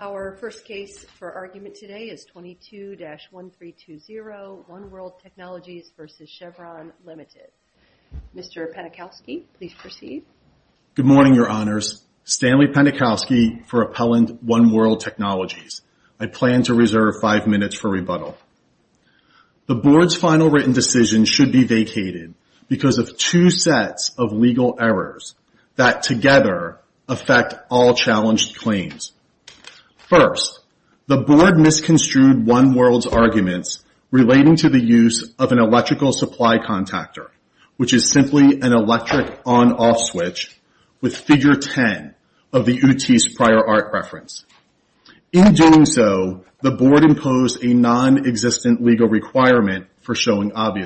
Our first case for argument today is 22-1320, One World Technologies v. Chervon Limited. Mr. Penikowski, please proceed. Good morning, Your Honors. Stanley Penikowski for Appellant, One World Technologies. I plan to reserve five minutes for rebuttal. The Board's final written decision should be vacated because of two sets of legal errors that together affect all challenged claims. First, the Board misconstrued One World's arguments relating to the use of an electrical supply contactor, which is simply an electric on-off switch with Figure 10 of the OOT's prior art reference. In doing so, the Board imposed a non-existent legal requirement for showing that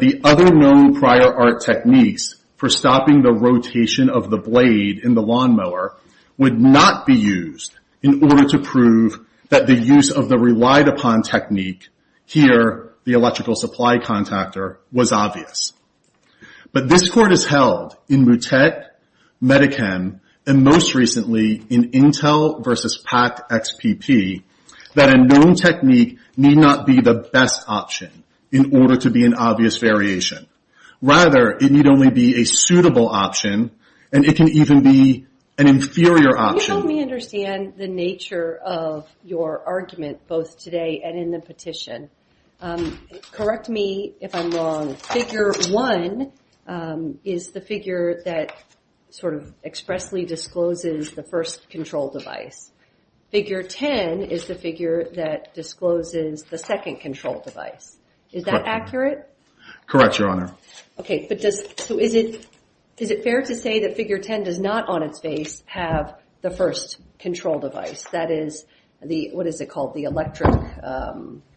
the other known prior art techniques for stopping the rotation of the blade in the lawnmower would not be used in order to prove that the use of the relied-upon technique, here the electrical supply contactor, was obvious. But this Court has held, in Mootec, Medi-Chem, and most recently in Intel v. Packed XPP, that a known technique need not be the best option in order to be an obvious variation. Rather, it need only be a suitable option, and it can even be an inferior option. Can you help me understand the nature of your argument both today and in the petition? Correct me if I'm wrong. Figure 1 is the figure that sort of expressly discloses the first control device. Figure 10 is the figure that discloses the second control device. Is that accurate? Correct, Your Honor. Okay, but does, so is it, is it fair to say that Figure 10 does not, on its face, have the first control device? That is the, what is it called, the electric?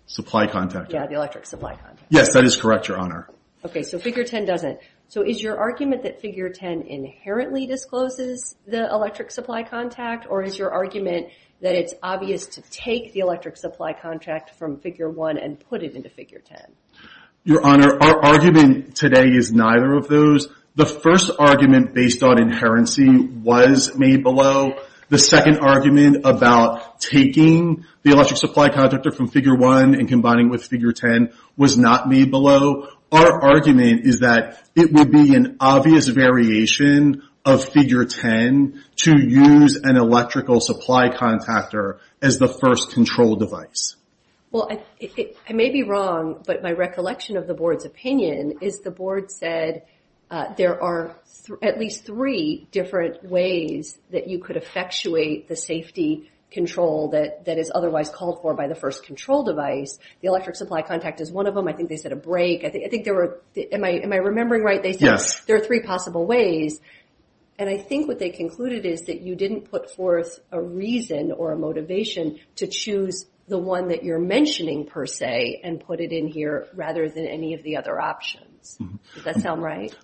Supply contactor. Yeah, the electric supply contactor. Yes, that is correct, Your Honor. Okay, so Figure 10 doesn't. So is your argument that Figure 10 inherently discloses the electric supply contact, or is your argument that it's obvious to take the electric supply contract from Figure 1 and put it into Figure 10? Your Honor, our argument today is neither of those. The first argument based on inherency was made below. The second argument about taking the electric supply contractor from Figure 1 and combining with Figure 10 was not made below. Our argument is that it would be an obvious variation of Figure 10 to use an electrical supply contactor as the first control device. Well, I may be wrong, but my recollection of the Board's opinion is the Board said there are at least three different ways that you could effectuate the safety control that is otherwise called for by the first control device. The electric supply contact is one of them. I think they said a brake. I think there were, am I remembering right? Yes. There are three possible ways, and I think what they concluded is that you didn't put forth a reason or a motivation to choose the one that you're mentioning per se and put it in here rather than any of the other options. Does that sound right?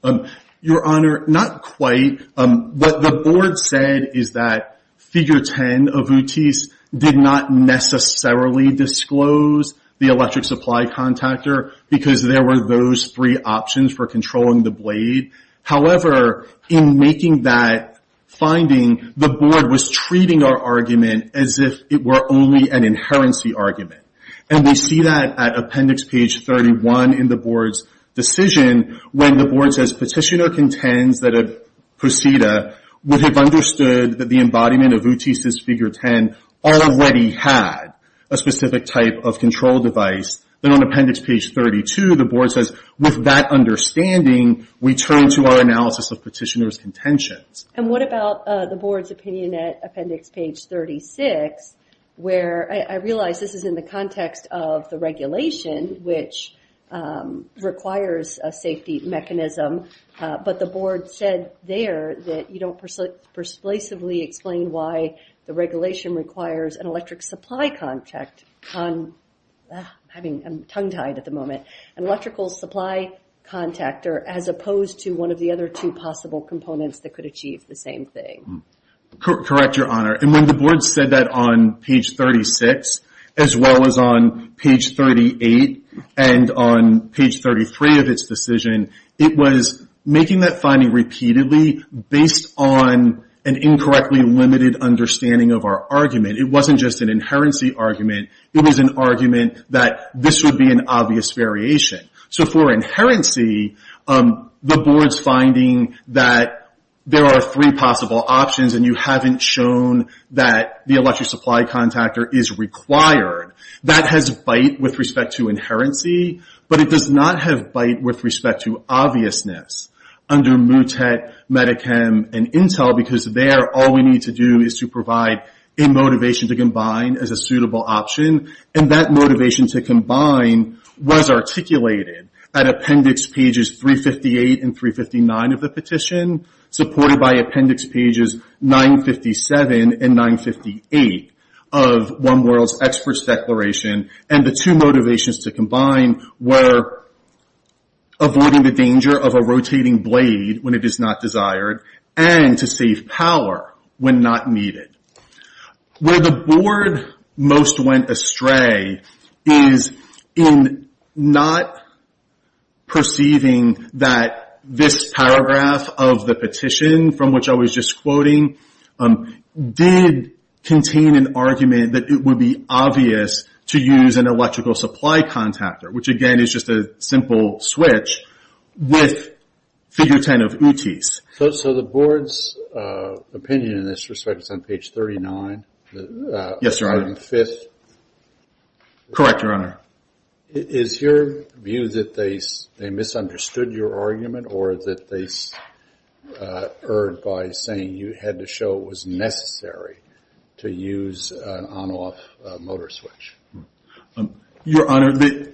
Your Honor, not quite. What the Board said is that Figure 10 of UTIs did not necessarily disclose the electric supply contactor because there were those three options for controlling the blade. However, in making that finding, the Board was treating our argument as if it were only an inherency argument, and we see that at Appendix Page 31 in the Board's decision when the Board says, Petitioner contends that a Proceeda would have understood that the embodiment of UTIs as Figure 10 already had a specific type of control device. Then on Appendix Page 32, the Board says, With that understanding, we turn to our analysis of Petitioner's contentions. And what about the Board's opinion at Appendix Page 36, where I realize this is in the context of the regulation, which requires a safety mechanism, but the Board said there that you don't persuasively explain why the regulation requires an electric supply contact. I'm tongue-tied at the moment. An electrical supply contact, as opposed to one of the other two possible components that could achieve the same thing. Correct, Your Honor. And when the Board said that on Page 36, as well as on Page 38 and on Page 33 of its decision, it was making that finding repeatedly based on an incorrectly limited understanding of our argument. It wasn't just an inherency argument. It was an argument that this would be an obvious variation. So for inherency, the Board's finding that there are three possible options, and you haven't shown that the electric supply contact is required. That has bite with respect to inherency, but it does not have bite with respect to obviousness under MUTET, Medi-Chem, and Intel, because there all we need to do is to provide a motivation to combine as a motivation to combine was articulated at Appendix Pages 358 and 359 of the petition, supported by Appendix Pages 957 and 958 of One World's Experts Declaration. And the two motivations to combine were avoiding the danger of a rotating blade when it is not desired, and to save power when not needed. Where the Board most went astray is in not perceiving that this paragraph of the petition, from which I was just quoting, did contain an argument that it would be obvious to use an electrical supply contactor, which again is just a simple switch, with Figure 10 of UTIs. So the Board's opinion in this respect is on Page 39? Yes, Your Honor. On the fifth? Correct, Your Honor. Is your view that they misunderstood your argument, or that they erred by saying you had to show it was necessary to use an on-off motor switch? Your Honor, the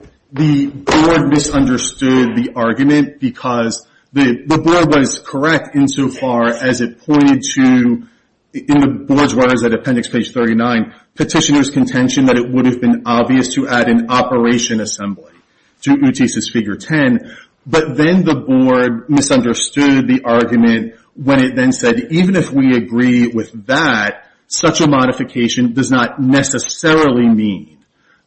Board misunderstood the argument because the Board was correct insofar as it pointed to, in the Board's words at Appendix Page 39, Petitioner's contention that it would have been obvious to add an operation assembly to UTIs' Figure 10. But then the Board misunderstood the argument when it then said, even if we agree with that, such a modification does not necessarily mean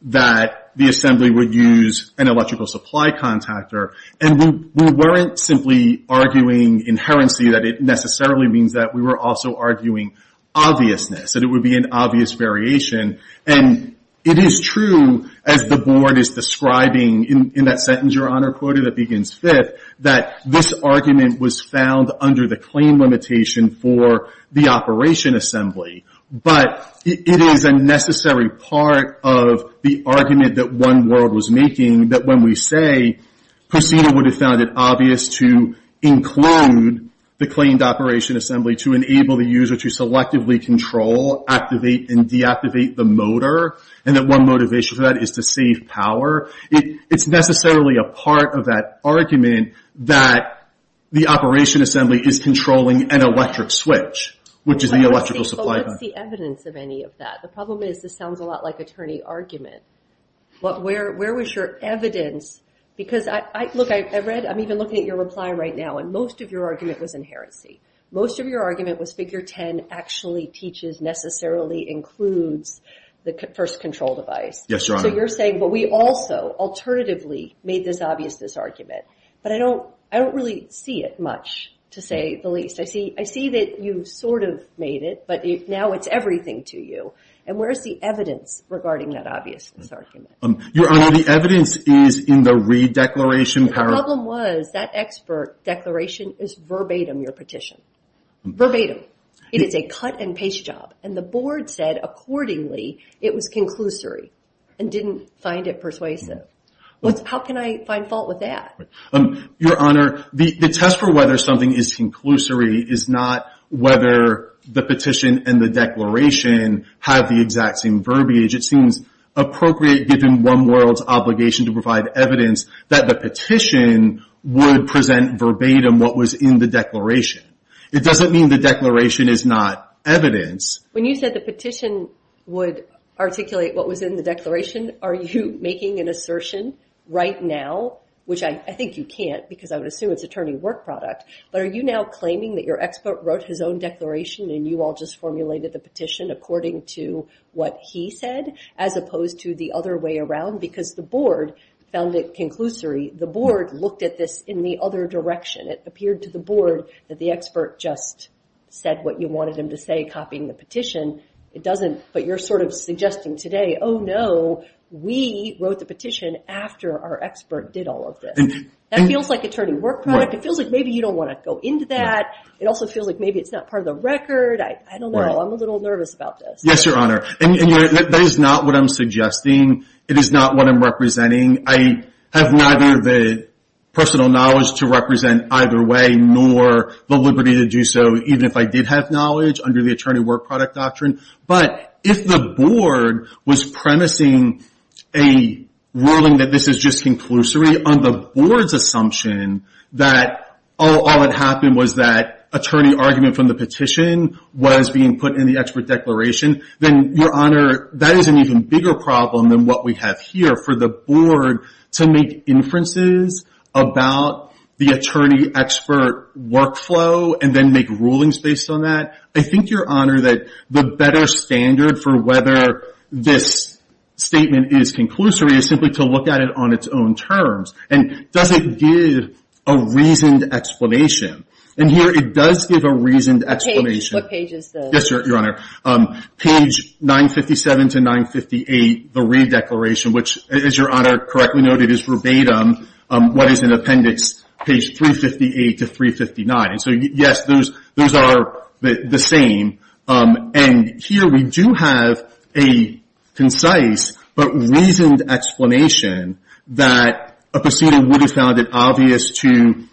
that the assembly would use an electrical supply contactor. And we weren't simply arguing inherently that it necessarily means that. We were also arguing obviousness, that it would be an obvious variation. And it is true, as the Board is describing in that sentence, Your Honor, quoted at Begin's Fifth, that this argument was found under the claim limitation for the operation assembly. But it is a necessary part of the argument that One World was making, that when we say Procedo would have found it obvious to include the claimed operation assembly to enable the user to selectively control, activate, and deactivate the motor, and that one motivation for that is to save power. It's necessarily a part of that argument that the operation assembly is controlling an electric switch, which is the electrical supply contact. But what's the evidence of any of that? The problem is, this sounds a lot like attorney argument. Where was your evidence? Because, I read, I'm even looking at your reply right now, and most of your argument was inherency. Most of your argument was Figure 10 actually teaches, necessarily includes the first control device. Yes, Your Honor. So you're saying, but we also, alternatively, made this obviousness argument. But I don't really see it much, to say the least. I see that you sort of made it, but now it's everything to you. And where's the evidence regarding that obviousness argument? Your Honor, the evidence is in the re-declaration. The problem was, that expert declaration is verbatim your petition. Verbatim. It is a cut and paste job. And the Board said, accordingly, it was conclusory, and didn't find it persuasive. How can I find fault with that? Your Honor, the test for whether something is conclusory is not whether the petition and the declaration have the exact same verbiage. It seems appropriate, given one world's obligation to provide evidence, that the petition would present verbatim what was in the declaration. It doesn't mean the declaration is not evidence. When you said the petition would articulate what was in the declaration, are you making an assertion right now? Which I think you can't, because I would assume it's attorney work product. But are you now claiming that your expert wrote his own declaration, and you all just formulated the petition according to what he said, as opposed to the other way around? Because the Board found it conclusory. The Board looked at this in the other direction. It appeared to the Board that the expert just said what you wanted him to say, copying the petition. It doesn't. But you're sort of suggesting today, oh no, we wrote the petition after our expert did all of this. That feels like attorney work product. It feels like maybe you don't want to go into that. It also feels like maybe it's not part of the record. I don't know. I'm a little nervous about this. Yes, Your Honor. And that is not what I'm suggesting. It is not what I'm representing. I have neither the personal knowledge to represent either way, nor the liberty to do so, even if I did have knowledge under the attorney work product doctrine. But if the Board was premising a ruling that this is just conclusory on the Board's assumption that all that happened was that attorney argument from the petition was being put in the expert problem than what we have here, for the Board to make inferences about the attorney expert workflow and then make rulings based on that, I think, Your Honor, that the better standard for whether this statement is conclusory is simply to look at it on its own terms. And does it give a reasoned explanation? And here it does give a reasoned explanation. What page is this? Yes, the re-declaration, which, as Your Honor correctly noted, is verbatim what is in appendix page 358 to 359. And so, yes, those are the same. And here we do have a concise but reasoned explanation that a proceeding would have found it obvious to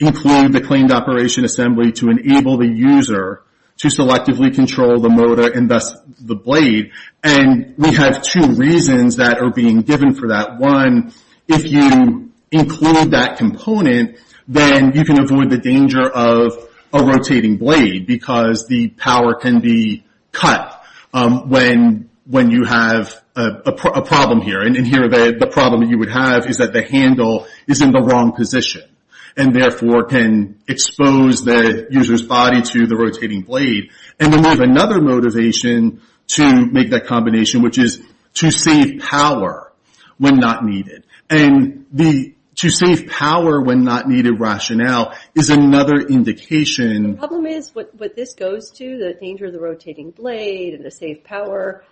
include the claimed operation assembly to enable the user to selectively control the motor and thus the blade. And we have two reasons that are being given for that. One, if you include that component, then you can avoid the danger of a rotating blade because the power can be cut when you have a problem here. And here the problem you would have is that the handle is in the wrong position and, therefore, can expose the user's body to the rotating blade. And then we have another motivation to make that combination, which is to save power when not needed. And to save power when not needed rationale is another indication... The problem is what this goes to, the danger of the rotating blade and the safe power.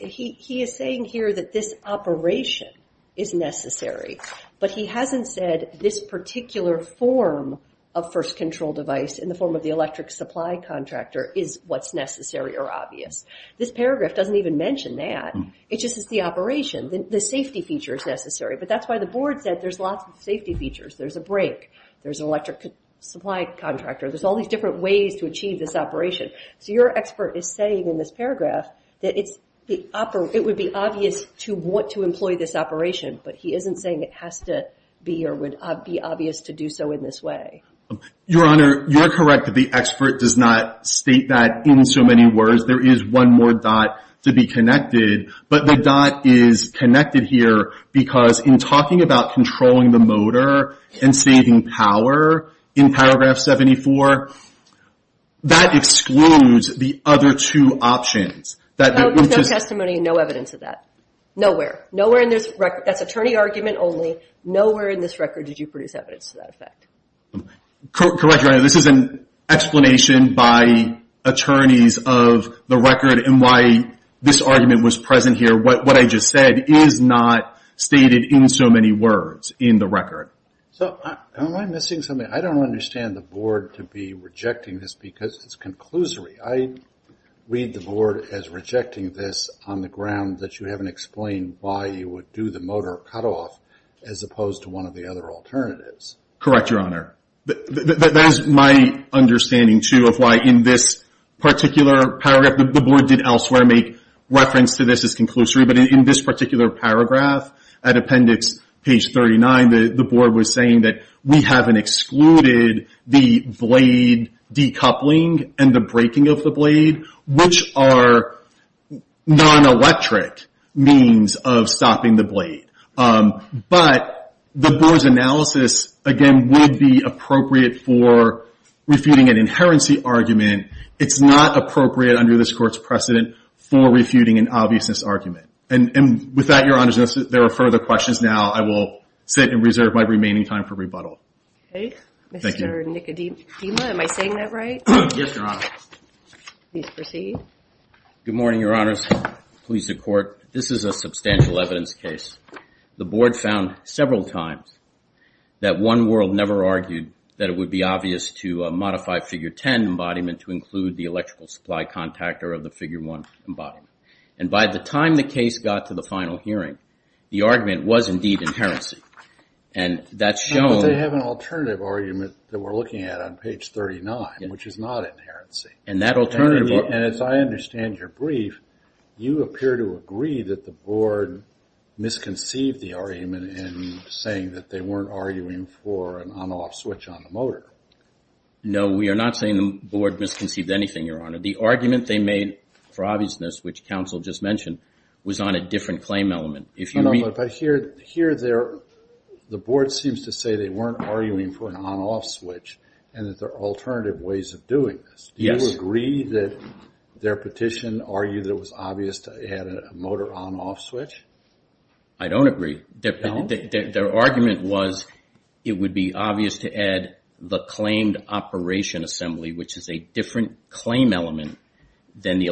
He is saying here that this operation is necessary, but he hasn't said this particular form of first control device in the form of the electric supply contractor is what's necessary or obvious. This paragraph doesn't even mention that. It just says the operation. The safety feature is necessary, but that's why the board said there's lots of safety features. There's a brake. There's an electric supply contractor. There's all these different ways to achieve this operation. So your expert is saying in this paragraph that it would be obvious to want to employ this operation, but he isn't saying it has to be or would be obvious to do so in this way. Your Honor, you're correct that the expert does not state that in so many words. There is one more dot to be connected, but the dot is connected here because in talking about controlling the motor and saving power in paragraph 74, that excludes the other two options. No testimony and no evidence of that. Nowhere. That's attorney argument only. Nowhere in this record did you produce evidence to that effect. Correct, Your Honor. This is an explanation by attorneys of the record and why this argument was present here. What I just said is not stated in so many words in the record. So am I missing something? I don't understand the board to be rejecting this because it's conclusory. I read the board as rejecting this on the ground that you haven't explained why you would do the motor cutoff as opposed to one of the other alternatives. Correct, Your Honor. That is my understanding too of why in this particular paragraph, the board did elsewhere make reference to this as conclusory, but in this particular paragraph at appendix page 39, the board was saying that we haven't excluded the blade decoupling and the breaking of the blade, which are non-electric means of stopping the blade. But the board's analysis, again, would be appropriate for refuting an inherency argument. It's not appropriate under this court's precedent for refuting an obviousness argument. And with that, Your Honor, if there are further questions now, I will sit and reserve my remaining time for rebuttal. Okay. Mr. Nicodema, am I saying that right? Yes, Your Honor. Please proceed. Good morning, Your Honors. Police and Court. This is a substantial evidence case. The board found several times that One World never argued that it would be obvious to modify figure 10 embodiment to include the electrical supply contactor of the figure 1 embodiment. And by the time the case got to the final hearing, the argument was indeed inherency. And that's shown... But they have an alternative argument that we're looking at on page 39, which is not inherency. And that alternative... And as I understand your brief, you appear to agree that the board misconceived the argument in saying that they weren't arguing for an on-off switch on the motor. No, we are not saying the board misconceived anything, Your Honor. The argument they made for obviousness, which counsel just mentioned, was on a different claim element. If you... But here, the board seems to say they weren't arguing for an on-off switch and that there are alternative ways of doing this. Do you agree that their petition argued that it was obvious to add a motor on-off switch? I don't agree. Their argument was it would be obvious to add the claimed operation assembly, which is a different claim element than the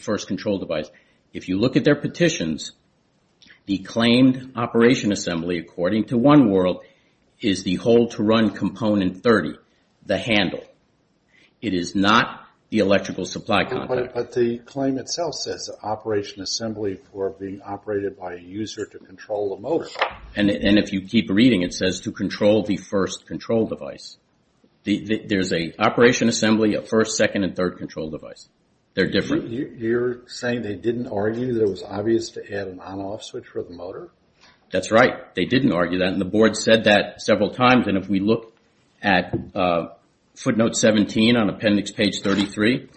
first control device. If you look at their petitions, the claimed operation assembly, according to OneWorld, is the hold-to-run component 30, the handle. It is not the electrical supply contact. But the claim itself says operation assembly for being operated by a user to control the motor. And if you keep reading, it says to control the first control device. There's an assembly, a first, second, and third control device. They're different. You're saying they didn't argue that it was obvious to add an on-off switch for the motor? That's right. They didn't argue that. And the board said that several times. And if we look at footnote 17 on appendix page 33,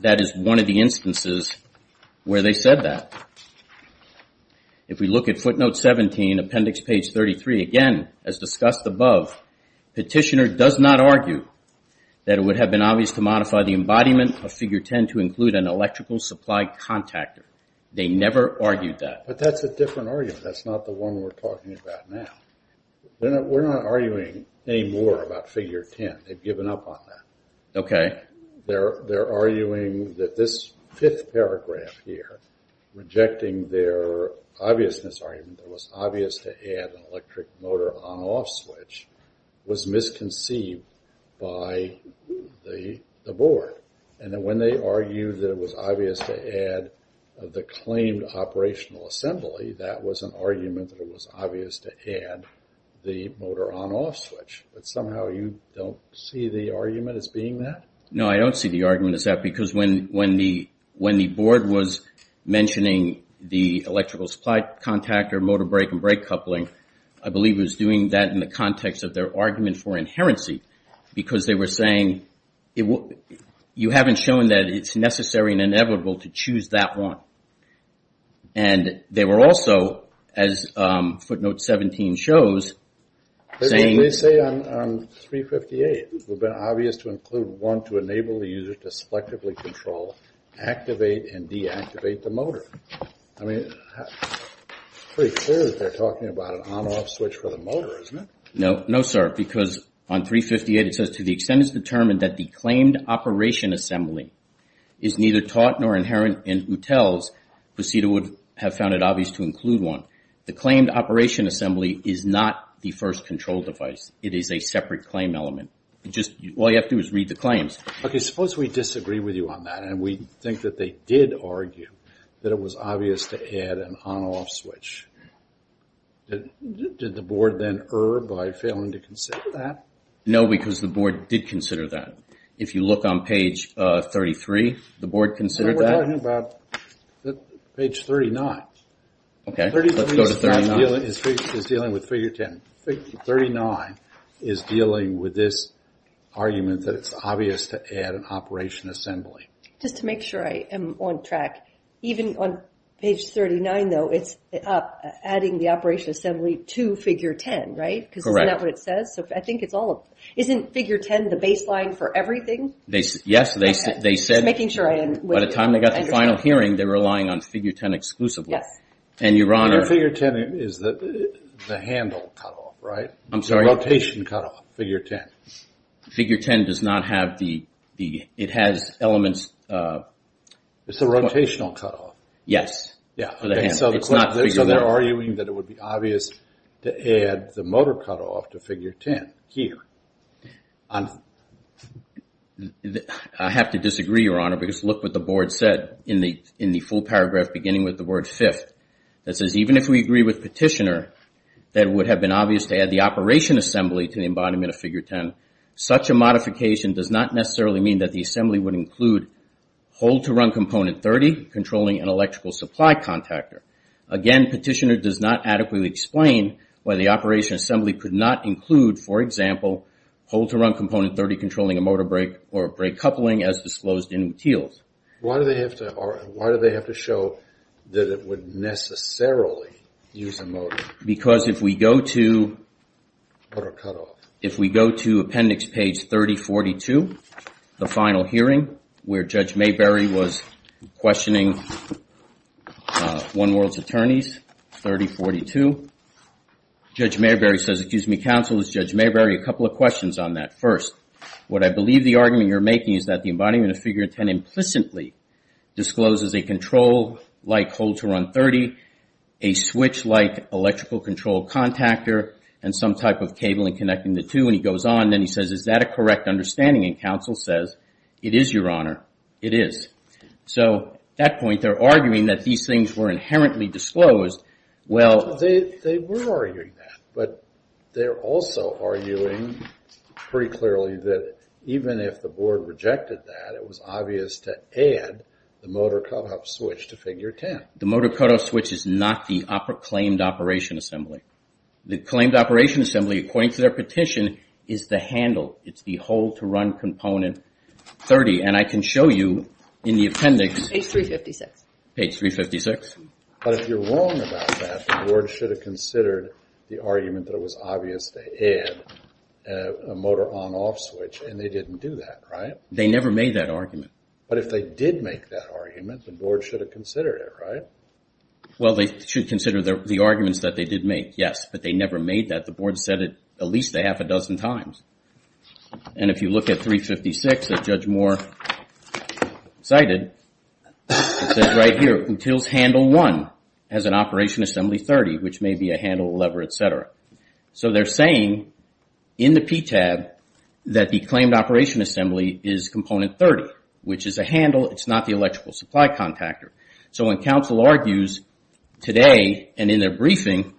that is one of the instances where they said that. If we look at footnote 17, appendix page 33, again, as discussed above, petitioner does not argue that it would have been obvious to modify the embodiment of figure 10 to include an electrical supply contactor. They never argued that. But that's a different argument. That's not the one we're talking about now. We're not arguing any more about figure 10. They've given up on that. They're arguing that this fifth paragraph here, rejecting their obviousness argument, it was obvious to add an electric motor on-off switch, was misconceived by the board. And then when they argued that it was obvious to add the claimed operational assembly, that was an argument that it was obvious to add the motor on-off switch. But somehow you don't see the argument as being that? No, I don't see the argument as that. Because when the board was mentioning the electrical supply contactor, motor brake and brake coupling, I believe it was doing that in the context of their argument for inherency. Because they were saying, you haven't shown that it's necessary and inevitable to choose that one. And they were also, as footnote 17 shows, saying... They say on 358, it would have been obvious to include one to enable the user to selectively control, activate, and deactivate the motor. I mean, it's pretty clear that they're talking about an on-off switch for the motor, isn't it? No, no, sir. Because on 358, it says, to the extent it's determined that the claimed operation assembly is neither taught nor inherent in UTEL's, the procedure would have found it obvious to include one. The claimed operation assembly is not the first control device. It is a separate claim element. All you have to do is read the claims. Okay, suppose we disagree with you on that, and we think that they did argue that it was obvious to add an on-off switch. Did the board then err by failing to consider that? No, because the board did consider that. If you look on page 33, the board considered that? We're talking about page 39. Okay, let's go to 39. It's dealing with figure 10. 39 is dealing with this argument that it's obvious to add an operation assembly. Just to make sure I am on track, even on page 39, though, it's adding the operation assembly to figure 10, right? Correct. Because isn't that what it says? I think it's all... Isn't figure 10 the baseline for everything? Yes, they said... And figure 10 is the handle cutoff, right? I'm sorry? The rotation cutoff, figure 10. Figure 10 does not have the... It has elements... It's the rotational cutoff. Yes. So they're arguing that it would be obvious to add the motor cutoff to figure 10 here. I have to disagree, Your Honor, because look what the board said in the full paragraph beginning with the word fifth. It says, even if we agree with Petitioner that it would have been obvious to add the operation assembly to the embodiment of figure 10, such a modification does not necessarily mean that the assembly would include hole-to-run component 30 controlling an electrical supply contactor. Again, Petitioner does not adequately explain why the operation assembly could not include, for example, hole-to-run component 30 controlling a motor brake or brake that it would necessarily use a motor. Because if we go to... Motor cutoff. If we go to appendix page 3042, the final hearing, where Judge Mayberry was questioning One World's attorneys, 3042, Judge Mayberry says, excuse me, counsel, is Judge Mayberry a couple of questions on that. First, what I believe the argument you're making is that the embodiment of figure 10 implicitly discloses a control-like hole-to-run 30, a switch-like electrical control contactor, and some type of cabling connecting the two, and he goes on, then he says, is that a correct understanding? And counsel says, it is, Your Honor. It is. So, at that point, they're arguing that these things were inherently disclosed. Well... They were arguing that, but they're also arguing pretty clearly that even if the board rejected that, it was obvious to add the motor cutoff switch to figure 10. The motor cutoff switch is not the claimed operation assembly. The claimed operation assembly, according to their petition, is the handle. It's the hole-to-run component 30, and I can show you in the appendix... Page 356. Page 356. But if you're wrong about that, the board should have considered the argument that it was obvious to add a motor on-off switch, and they didn't do that, right? They never made that argument. But if they did make that argument, the board should have considered it, right? Well, they should consider the arguments that they did make, yes, but they never made that. The board said it at least a half a dozen times. And if you look at 356 that Judge Moore cited, it says right here, Util's handle 1 has an operation assembly 30, which may be a handle, lever, etc. So they're saying in the PTAB that the claimed operation assembly is component 30, which is a handle. It's not the electrical supply contactor. So when counsel argues today and in their briefing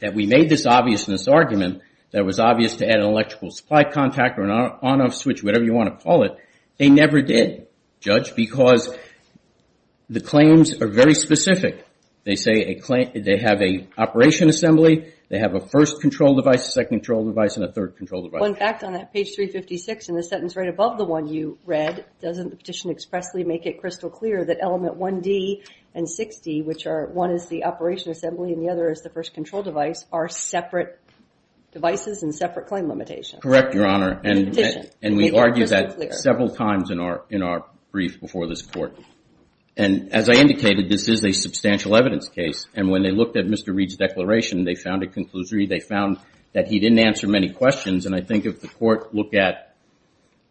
that we made this obvious in this argument, that it was obvious to add an electrical supply contactor, an on-off switch, whatever you want to call it, they never did, Judge, because the claims are very specific. They say they have an operation assembly, they have a first control device, a second control device, and a third control device. One fact on that page 356, in the sentence right above the one you read, doesn't the petition expressly make it crystal clear that element 1D and 6D, which are one is the operation assembly and the other is the first control device, are separate devices and separate claim limitations? Correct, Your Honor, and we've argued that several times in our brief before this Court. And as I indicated, this is a substantial evidence case. And when they looked at Mr. Reed's declaration, they found a conclusory. They found that he didn't answer many questions. And I think if the Court look at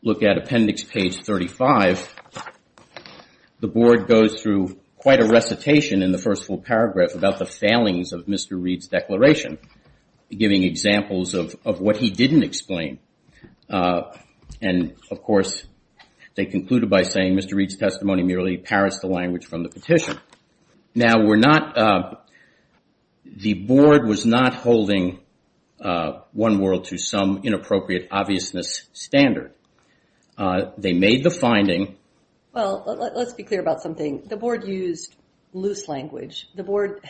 appendix page 35, the Board goes through quite a recitation in the first full paragraph about the failings of Mr. Reed's declaration, giving examples of what he didn't explain. And, of course, they concluded by saying, Mr. Reed's testimony merely parrots the language from the petition. Now, we're not, the Board was not holding One World to some inappropriate obviousness standard. They made the finding. Well, let's be clear about something. The Board used loose language. The Board,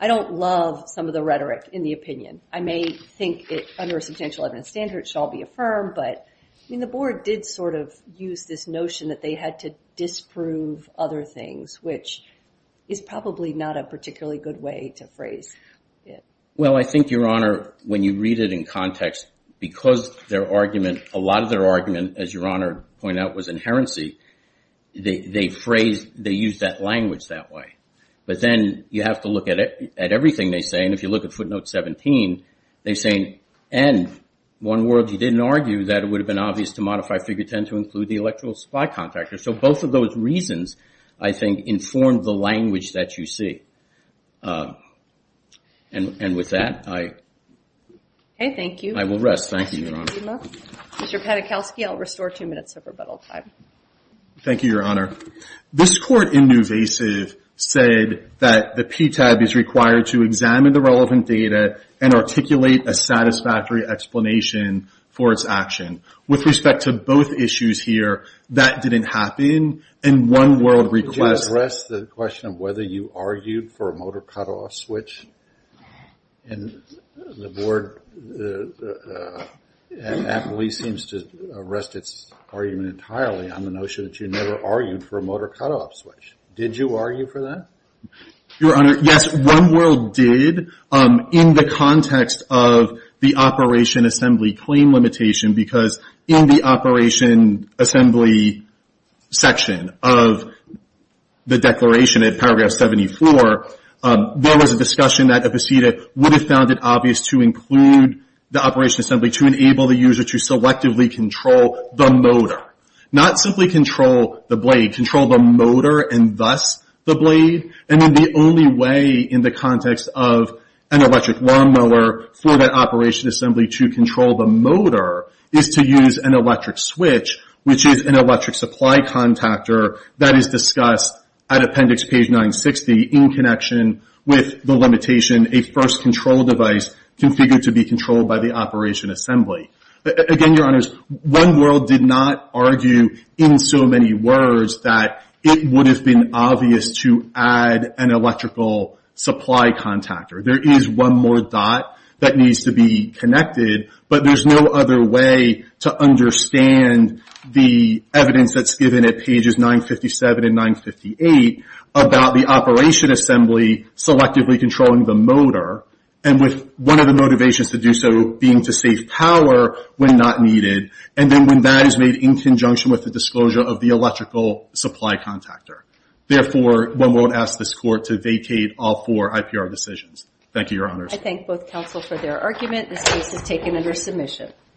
I don't love some of the rhetoric in the opinion. I may think it, under a substantial evidence standard, shall be affirmed. But, I mean, the Board did sort of use this notion that they had to disprove other things, which is probably not a particularly good way to phrase it. Well, I think, Your Honor, when you read it in context, because their argument, a lot of their argument, as Your Honor pointed out, was inherency, they phrased, they used that language that way. But then you have to look at it, at everything they say. If you look at footnote 17, they're saying, and One World, you didn't argue that it would have been obvious to modify figure 10 to include the electoral supply contractor. So, both of those reasons, I think, informed the language that you see. And with that, I will rest. Thank you, Your Honor. Mr. Padachowski, I'll restore two minutes of rebuttal time. Thank you, Your Honor. This Court, in Newvasive, said that the PTAB is required to examine the relevant data and articulate a satisfactory explanation for its action. With respect to both issues here, that didn't happen. And One World requests- Could you address the question of whether you argued for a motor cutoff switch? And the Board, at least, seems to arrest its argument entirely on the notion that you never argued for a motor cutoff switch. Did you argue for that? Your Honor, yes. One World did, in the context of the Operation Assembly claim limitation. Because in the Operation Assembly section of the declaration, at paragraph 74, there was a discussion that a proceeding would have found it obvious to include not simply control the blade, control the motor, and thus the blade. And then the only way, in the context of an electric lawnmower, for that Operation Assembly to control the motor is to use an electric switch, which is an electric supply contactor that is discussed at appendix page 960 in connection with the limitation, a first control device configured to be controlled by the Operation Assembly. Again, Your Honors, One World did not argue, in so many words, that it would have been obvious to add an electrical supply contactor. There is one more dot that needs to be connected. But there's no other way to understand the evidence that's given at pages 957 and 958 and with one of the motivations to do so being to save power when not needed. And then when that is made in conjunction with the disclosure of the electrical supply contactor. Therefore, One World asks this Court to vacate all four IPR decisions. Thank you, Your Honors. I thank both counsel for their argument. This case is taken under submission.